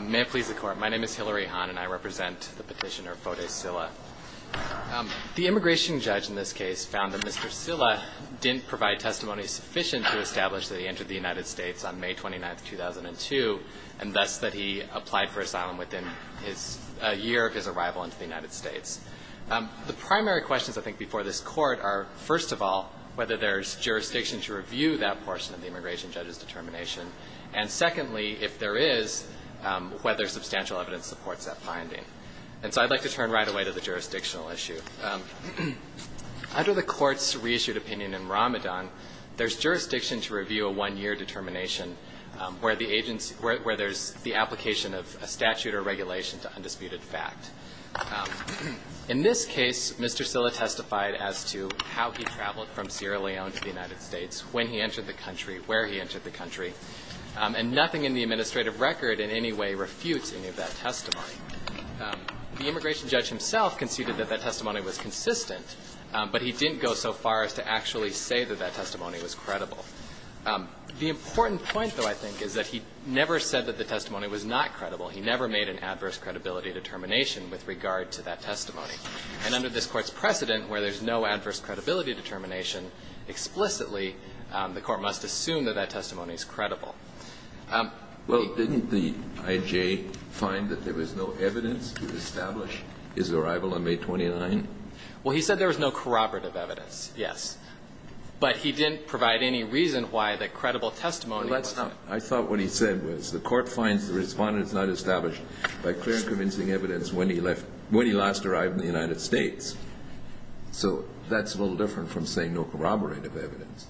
May it please the Court, my name is Hilary Hahn and I represent the petitioner Fode Sillah. The immigration judge in this case found that Mr. Sillah didn't provide testimony sufficient to establish that he entered the United States on May 29, 2002, and thus that he applied for asylum within a year of his arrival into the United States. The primary questions I think before this Court are, first of all, whether there's jurisdiction to review that portion of the immigration judge's determination, and secondly, if there is, whether substantial evidence supports that finding. And so I'd like to turn right away to the jurisdictional issue. Under the Court's reissued opinion in Ramadan, there's jurisdiction to review a one-year determination where there's the application of a statute or regulation to undisputed fact. In this case, Mr. Sillah testified as to how he traveled from Sierra Leone to the United States, when he entered the country, where he entered the country, and nothing in the administrative record in any way refutes any of that testimony. The immigration judge himself conceded that that testimony was consistent, but he didn't go so far as to actually say that that testimony was credible. The important point, though, I think, is that he never said that the testimony was not credible. He never made an adverse credibility determination with regard to that testimony. And under this Court's precedent, where there's no adverse credibility determination explicitly, the Court must assume that that testimony is credible. Kennedy. Well, didn't the I.J. find that there was no evidence to establish his arrival on May 29th? Well, he said there was no corroborative evidence, yes. But he didn't provide any reason why the credible testimony was not. I thought what he said was the Court finds the Respondent is not established by clear and convincing evidence when he left, when he last arrived in the United States. So that's a little different from saying no corroborative evidence.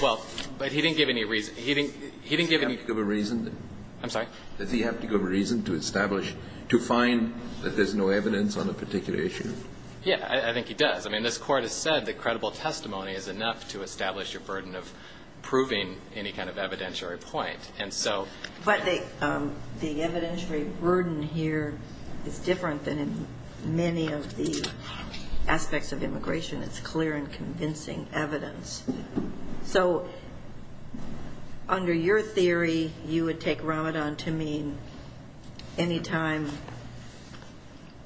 Well, but he didn't give any reason. He didn't give any ---- Does he have to give a reason? I'm sorry? Does he have to give a reason to establish, to find that there's no evidence on a particular issue? Yeah. I think he does. I mean, this Court has said that credible testimony is enough to establish your burden of proving any kind of evidentiary point. And so ---- But the evidentiary burden here is different than in many of the aspects of immigration. It's clear and convincing evidence. So under your theory, you would take Ramadan to mean any time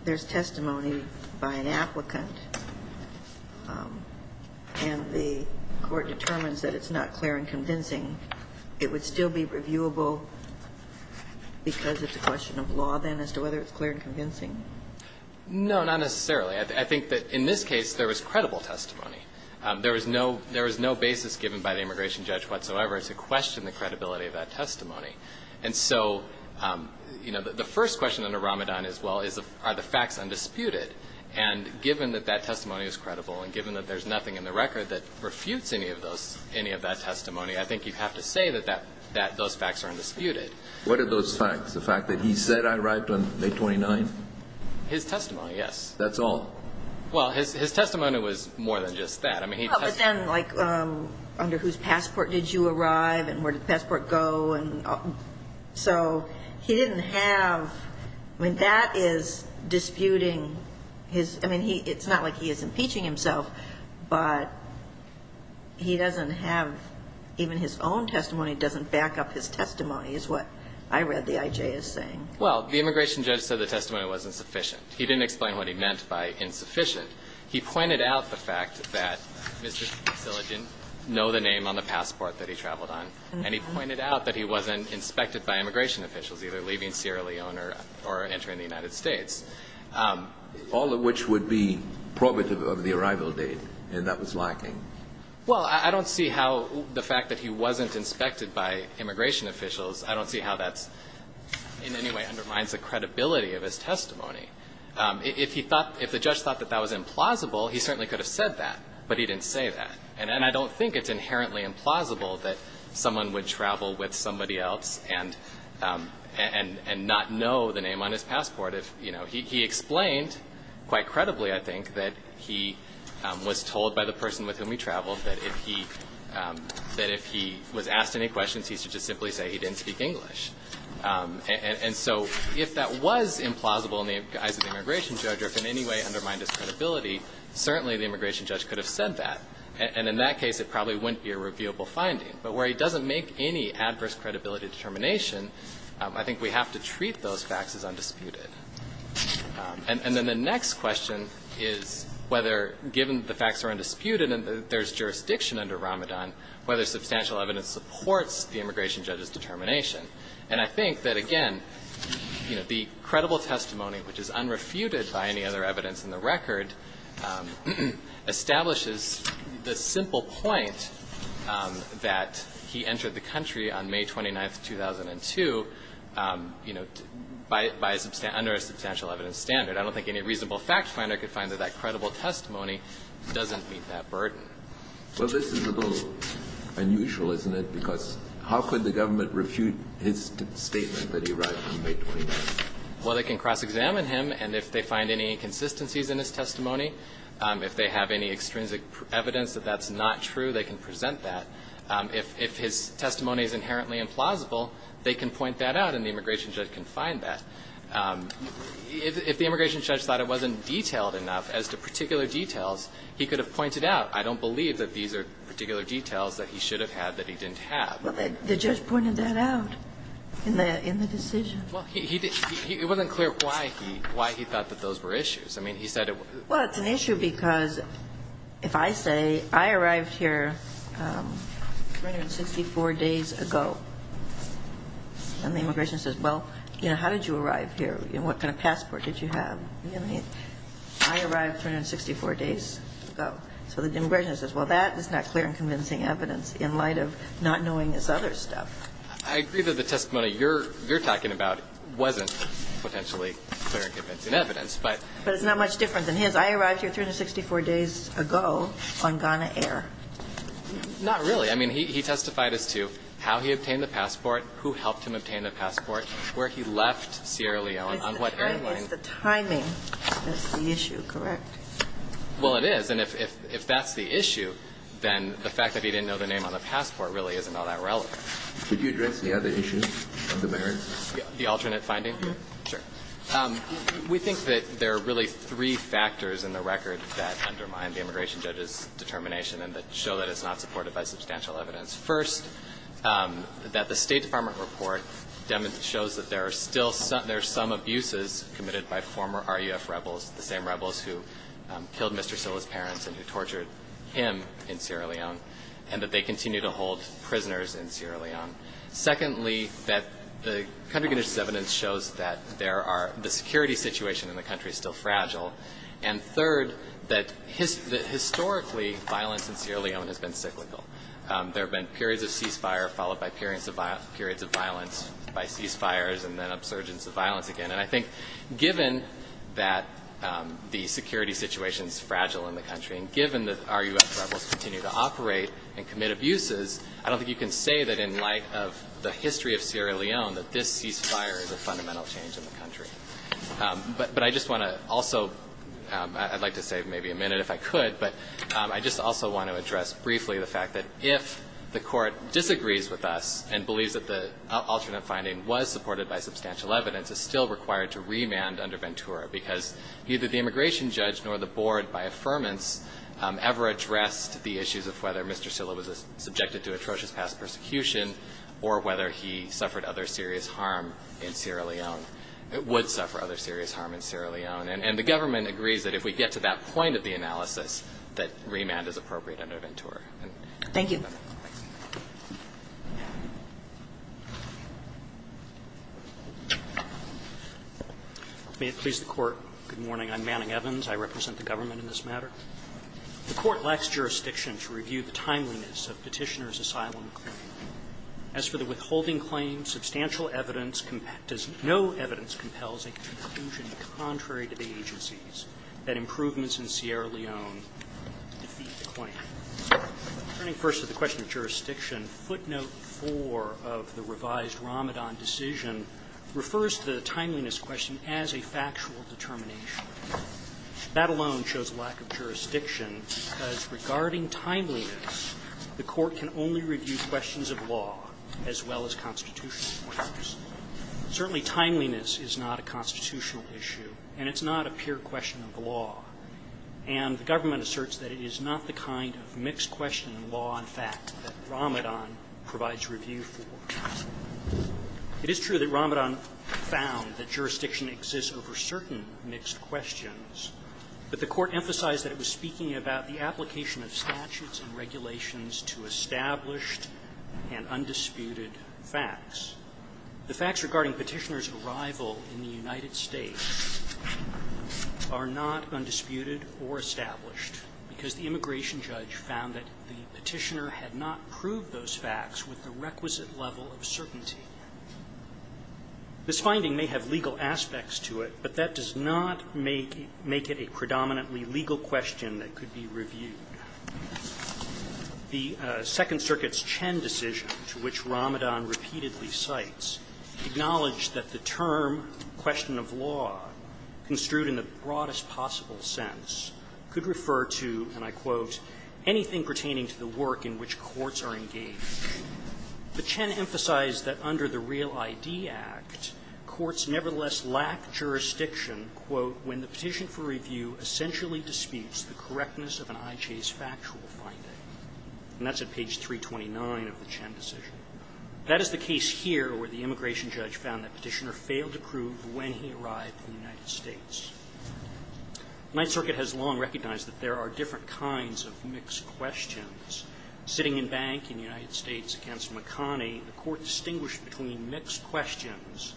there's testimony by an applicant and the Court determines that it's not clear and convincing, it would still be reviewable because it's a question of law, then, as to whether it's clear and convincing? No, not necessarily. I think that in this case, there was credible testimony. There was no basis given by the immigration judge whatsoever to question the credibility of that testimony. And so, you know, the first question under Ramadan is, well, are the facts undisputed? And given that that testimony is credible and given that there's nothing in the record that refutes any of those, any of that testimony, I think you'd have to say that those facts are undisputed. What are those facts? The fact that he said I arrived on May 29th? His testimony, yes. That's all? Well, his testimony was more than just that. I mean, he testified ---- But then, like, under whose passport did you arrive and where did the passport go? And so he didn't have ---- I mean, that is disputing his ---- I mean, it's not like he is impeaching himself, but he doesn't have ---- even his own testimony doesn't back up his testimony, is what I read the I.J. as saying. Well, the immigration judge said the testimony wasn't sufficient. He didn't explain what he meant by insufficient. He pointed out the fact that Mr. Szilagyi didn't know the name on the passport that he traveled on, and he pointed out that he wasn't inspected by immigration officials either leaving Sierra Leone or entering the United States. All of which would be probative of the arrival date, and that was lacking. Well, I don't see how the fact that he wasn't inspected by immigration officials, I don't see how that's in any way undermines the credibility of his testimony. If he thought ---- if the judge thought that that was implausible, he certainly could have said that, but he didn't say that. And I don't think it's inherently implausible that someone would travel with somebody else and not know the name on his passport. If, you know, he explained quite credibly, I think, that he was told by the person with whom he traveled that if he was asked any questions, he should just simply say he didn't speak English. And so if that was implausible in the eyes of the immigration judge or if in any way undermined his credibility, certainly the immigration judge could have said that. And in that case, it probably wouldn't be a reviewable finding. But where he doesn't make any adverse credibility determination, I think we have to treat those facts as undisputed. And then the next question is whether, given the facts are undisputed and there's jurisdiction under Ramadan, whether substantial evidence supports the immigration judge's determination. And I think that, again, you know, the credible testimony, which is unrefuted by any other evidence in the record, establishes the simple point that he entered the country on May 29th, 2002, you know, by a substantial – under a substantial evidence standard. I don't think any reasonable fact finder could find that that credible testimony doesn't meet that burden. Well, this is a little unusual, isn't it, because how could the government refute his statement that he arrived on May 29th? Well, they can cross-examine him, and if they find any inconsistencies in his testimony, if they have any extrinsic evidence that that's not true, they can present that. If his testimony is inherently implausible, they can point that out, and the immigration judge can find that. If the immigration judge thought it wasn't detailed enough as to particular details, he could have pointed out, I don't believe that these are particular details that he should have had that he didn't have. Well, the judge pointed that out in the decision. Well, he didn't – it wasn't clear why he thought that those were issues. I mean, he said it was – Well, it's an issue because if I say, I arrived here 364 days ago, and the immigration says, well, you know, how did you arrive here? You know, what kind of passport did you have? You know what I mean? I arrived 364 days ago. So the immigration says, well, that is not clear and convincing evidence in light of not knowing this other stuff. I agree that the testimony you're talking about wasn't potentially clear and convincing evidence, but – But it's not much different than his. I arrived here 364 days ago on Ghana air. Not really. I mean, he testified as to how he obtained the passport, who helped him obtain the passport, where he left Sierra Leone, on what airline. It's the timing that's the issue, correct? Well, it is. And if that's the issue, then the fact that he didn't know the name on the passport really isn't all that relevant. Could you address the other issue of the merits? The alternate finding? Sure. We think that there are really three factors in the record that undermine the immigration judge's determination and that show that it's not supported by substantial evidence. First, that the State Department report shows that there are still some – there are some abuses committed by former RUF rebels, the same rebels who killed Mr. Silla's in Sierra Leone, and that they continue to hold prisoners in Sierra Leone. Secondly, that the country's evidence shows that there are – the security situation in the country is still fragile. And third, that historically violence in Sierra Leone has been cyclical. There have been periods of ceasefire, followed by periods of violence, by ceasefires and then upsurges of violence again. And I think given that the security situation is fragile in the country and given that RUF rebels continue to operate and commit abuses, I don't think you can say that in light of the history of Sierra Leone that this ceasefire is a fundamental change in the country. But I just want to also – I'd like to save maybe a minute if I could, but I just also want to address briefly the fact that if the Court disagrees with us and believes that the alternate finding was supported by substantial evidence, it's still required to remand under Ventura, because neither the immigration judge nor the government have ever addressed the issues of whether Mr. Silla was subjected to atrocious past persecution or whether he suffered other serious harm in Sierra Leone – would suffer other serious harm in Sierra Leone. And the government agrees that if we get to that point of the analysis, that remand is appropriate under Ventura. Thank you. May it please the Court. Good morning. I'm Manning Evans. I represent the government in this matter. The Court lacks jurisdiction to review the timeliness of Petitioner's asylum claim. As for the withholding claim, substantial evidence – no evidence compels a conclusion contrary to the agency's that improvements in Sierra Leone defeat the claim. Turning first to the question of jurisdiction, footnote 4 of the revised Ramadan decision refers to the timeliness question as a factual determination. That alone shows a lack of jurisdiction, because regarding timeliness, the Court can only review questions of law as well as constitutional issues. Certainly, timeliness is not a constitutional issue, and it's not a pure question of law. And the government asserts that it is not the kind of mixed-question law in fact that Ramadan provides review for. It is true that Ramadan found that jurisdiction exists over certain mixed questions, but the Court emphasized that it was speaking about the application of statutes and regulations to established and undisputed facts. The facts regarding Petitioner's arrival in the United States are not undisputed or established, because the immigration judge found that the Petitioner had not proved those facts with the requisite level of certainty. This finding may have legal aspects to it, but that does not make it a predominantly legal question that could be reviewed. The Second Circuit's Chen decision, to which Ramadan repeatedly cites, acknowledged that the term, question of law, construed in the broadest possible sense, could refer to, and I quote, anything pertaining to the work in which courts are engaged. But Chen emphasized that under the Real ID Act, courts nevertheless lack jurisdiction, quote, when the petition for review essentially disputes the correctness of an IJ's factual finding. And that's at page 329 of the Chen decision. That is the case here where the immigration judge found that Petitioner failed to prove when he arrived in the United States. The Ninth Circuit has long recognized that there are different kinds of mixed questions. Sitting in bank in the United States against McConney, the court distinguished between mixed questions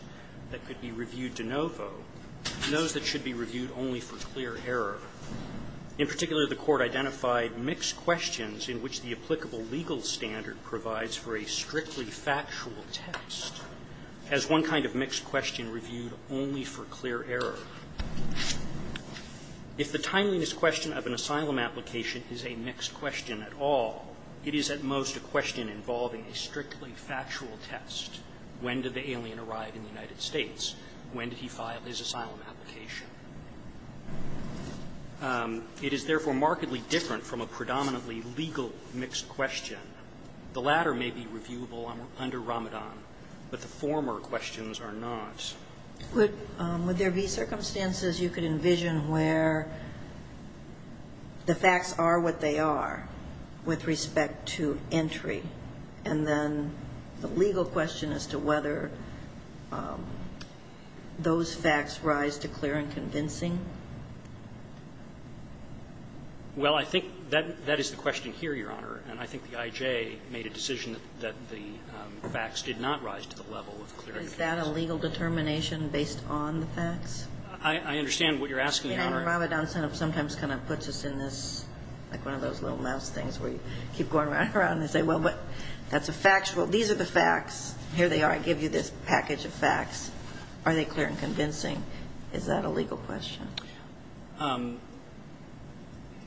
that could be reviewed de novo and those that should be reviewed only for clear error. In particular, the court identified mixed questions in which the applicable legal standard provides for a strictly factual test as one kind of mixed question reviewed only for clear error. If the timeliness question of an asylum application is a mixed question at all, it is at most a question involving a strictly factual test. When did the alien arrive in the United States? When did he file his asylum application? It is therefore markedly different from a predominantly legal mixed question. The latter may be reviewable under Ramadan, but the former questions are not. Would there be circumstances you could envision where the facts are what they are with respect to entry, and then the legal question as to whether those facts rise to clear and convincing? Well, I think that is the question here, Your Honor. And I think the I.J. made a decision that the facts did not rise to the level of clear and convincing. Is that a legal determination based on the facts? I understand what you're asking, Your Honor. And Ramadan sometimes kind of puts us in this, like one of those little mouse things where you keep going around and say, well, but that's a factual. These are the facts. Here they are. I give you this package of facts. Are they clear and convincing? Is that a legal question?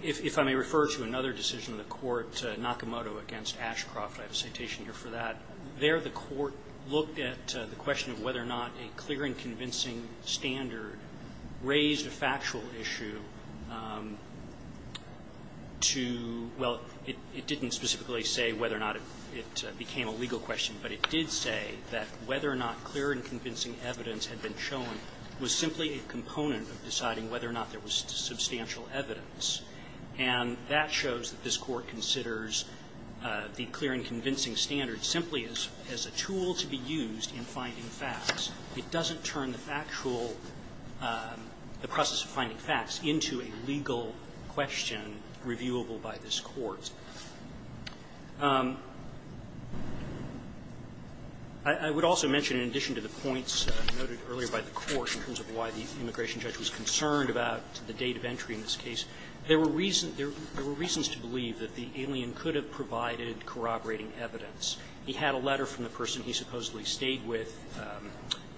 If I may refer to another decision of the court, Nakamoto v. Ashcroft, I have a citation here for that. There the court looked at the question of whether or not a clear and convincing standard raised a factual issue to, well, it didn't specifically say whether or not it became a legal question, but it did say that whether or not clear and convincing evidence had been shown was simply a component of deciding whether or not there was substantial evidence. And that shows that this Court considers the clear and convincing standard simply as a tool to be used in finding facts. It doesn't turn the factual, the process of finding facts into a legal question reviewable by this Court. I would also mention, in addition to the points noted earlier by the Court in terms of why the immigration judge was concerned about the date of entry in this case, there were reasons to believe that the alien could have provided corroborating evidence. He had a letter from the person he supposedly stayed with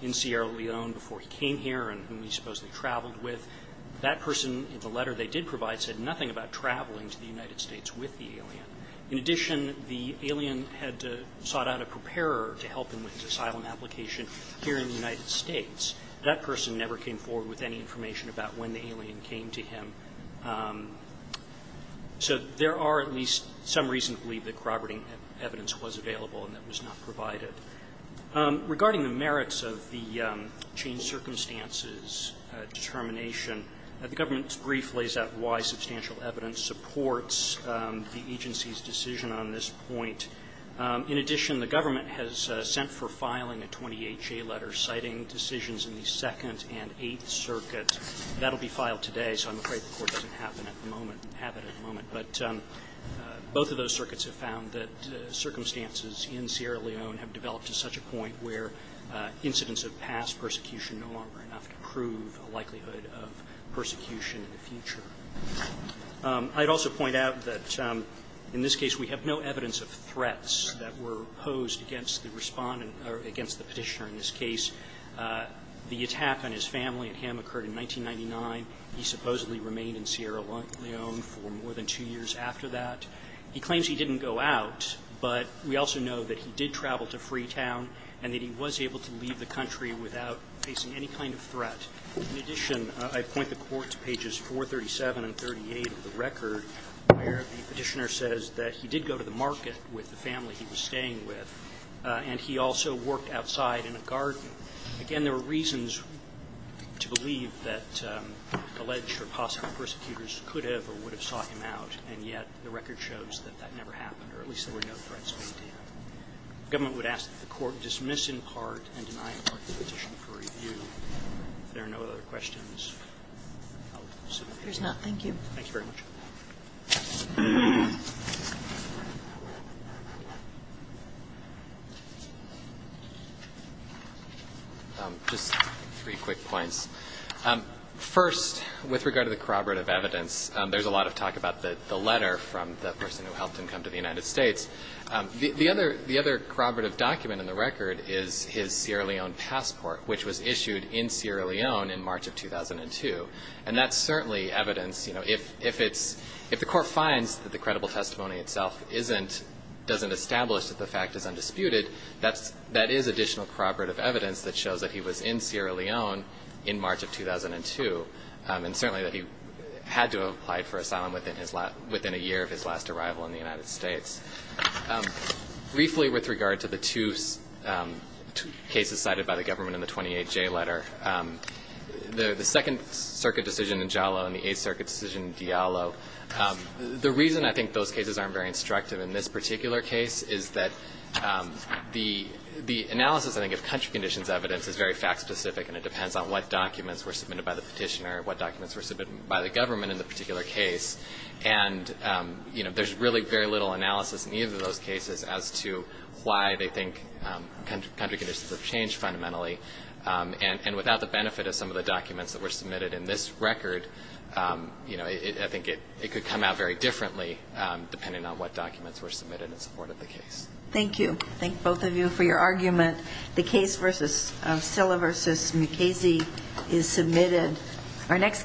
in Sierra Leone before he came here and whom he supposedly traveled with. That person, in the letter they did provide, said nothing about traveling to the United States with the alien. In addition, the alien had sought out a preparer to help him with his asylum application here in the United States. That person never came forward with any information about when the alien came to him. So there are at least some reasons to believe that corroborating evidence was available and that was not provided. Regarding the merits of the changed circumstances determination, the government's decision on this point, in addition, the government has sent for filing a 20HA letter citing decisions in the Second and Eighth Circuits. That will be filed today, so I'm afraid the Court doesn't have it at the moment. But both of those circuits have found that circumstances in Sierra Leone have developed to such a point where incidents of past persecution are no longer enough to prove a likelihood of persecution in the future. I'd also point out that in this case we have no evidence of threats that were posed against the Respondent or against the Petitioner in this case. The attack on his family and him occurred in 1999. He supposedly remained in Sierra Leone for more than two years after that. He claims he didn't go out, but we also know that he did travel to Freetown and that he was able to leave the country without facing any kind of threat. In addition, I point the Court to pages 437 and 438 of the record, where the Petitioner says that he did go to the market with the family he was staying with, and he also worked outside in a garden. Again, there are reasons to believe that alleged or possible persecutors could have or would have sought him out, and yet the record shows that that never happened, or at least there were no threats made to him. The government would ask that the Court dismiss in part and deny in part the petition for review. If there are no other questions, I'll submit them. Thank you. Thank you very much. Just three quick points. First, with regard to the corroborative evidence, there's a lot of talk about the letter from the person who helped him come to the United States. The other corroborative document in the record is his Sierra Leone passport, which was issued in Sierra Leone in March of 2002, and that's certainly evidence. You know, if the Court finds that the credible testimony itself doesn't establish that the fact is undisputed, that is additional corroborative evidence that shows that he was in Sierra Leone in March of 2002, and certainly that he had to have applied for asylum within a year of his last arrival in the United States. Briefly, with regard to the two cases cited by the government in the 28J letter, the Second Circuit decision in Jalo and the Eighth Circuit decision in Diallo, the reason I think those cases aren't very instructive in this particular case is that the analysis, I think, of country conditions evidence is very fact-specific and it depends on what documents were submitted by the petitioner and what documents were submitted by the government in the particular case. And, you know, there's really very little analysis in either of those cases as to why they think country conditions have changed fundamentally. And without the benefit of some of the documents that were submitted in this record, you know, I think it could come out very differently depending on what documents were submitted in support of the case. Thank you. I thank both of you for your argument. The case of Silla v. Mukasey is submitted. Our next case.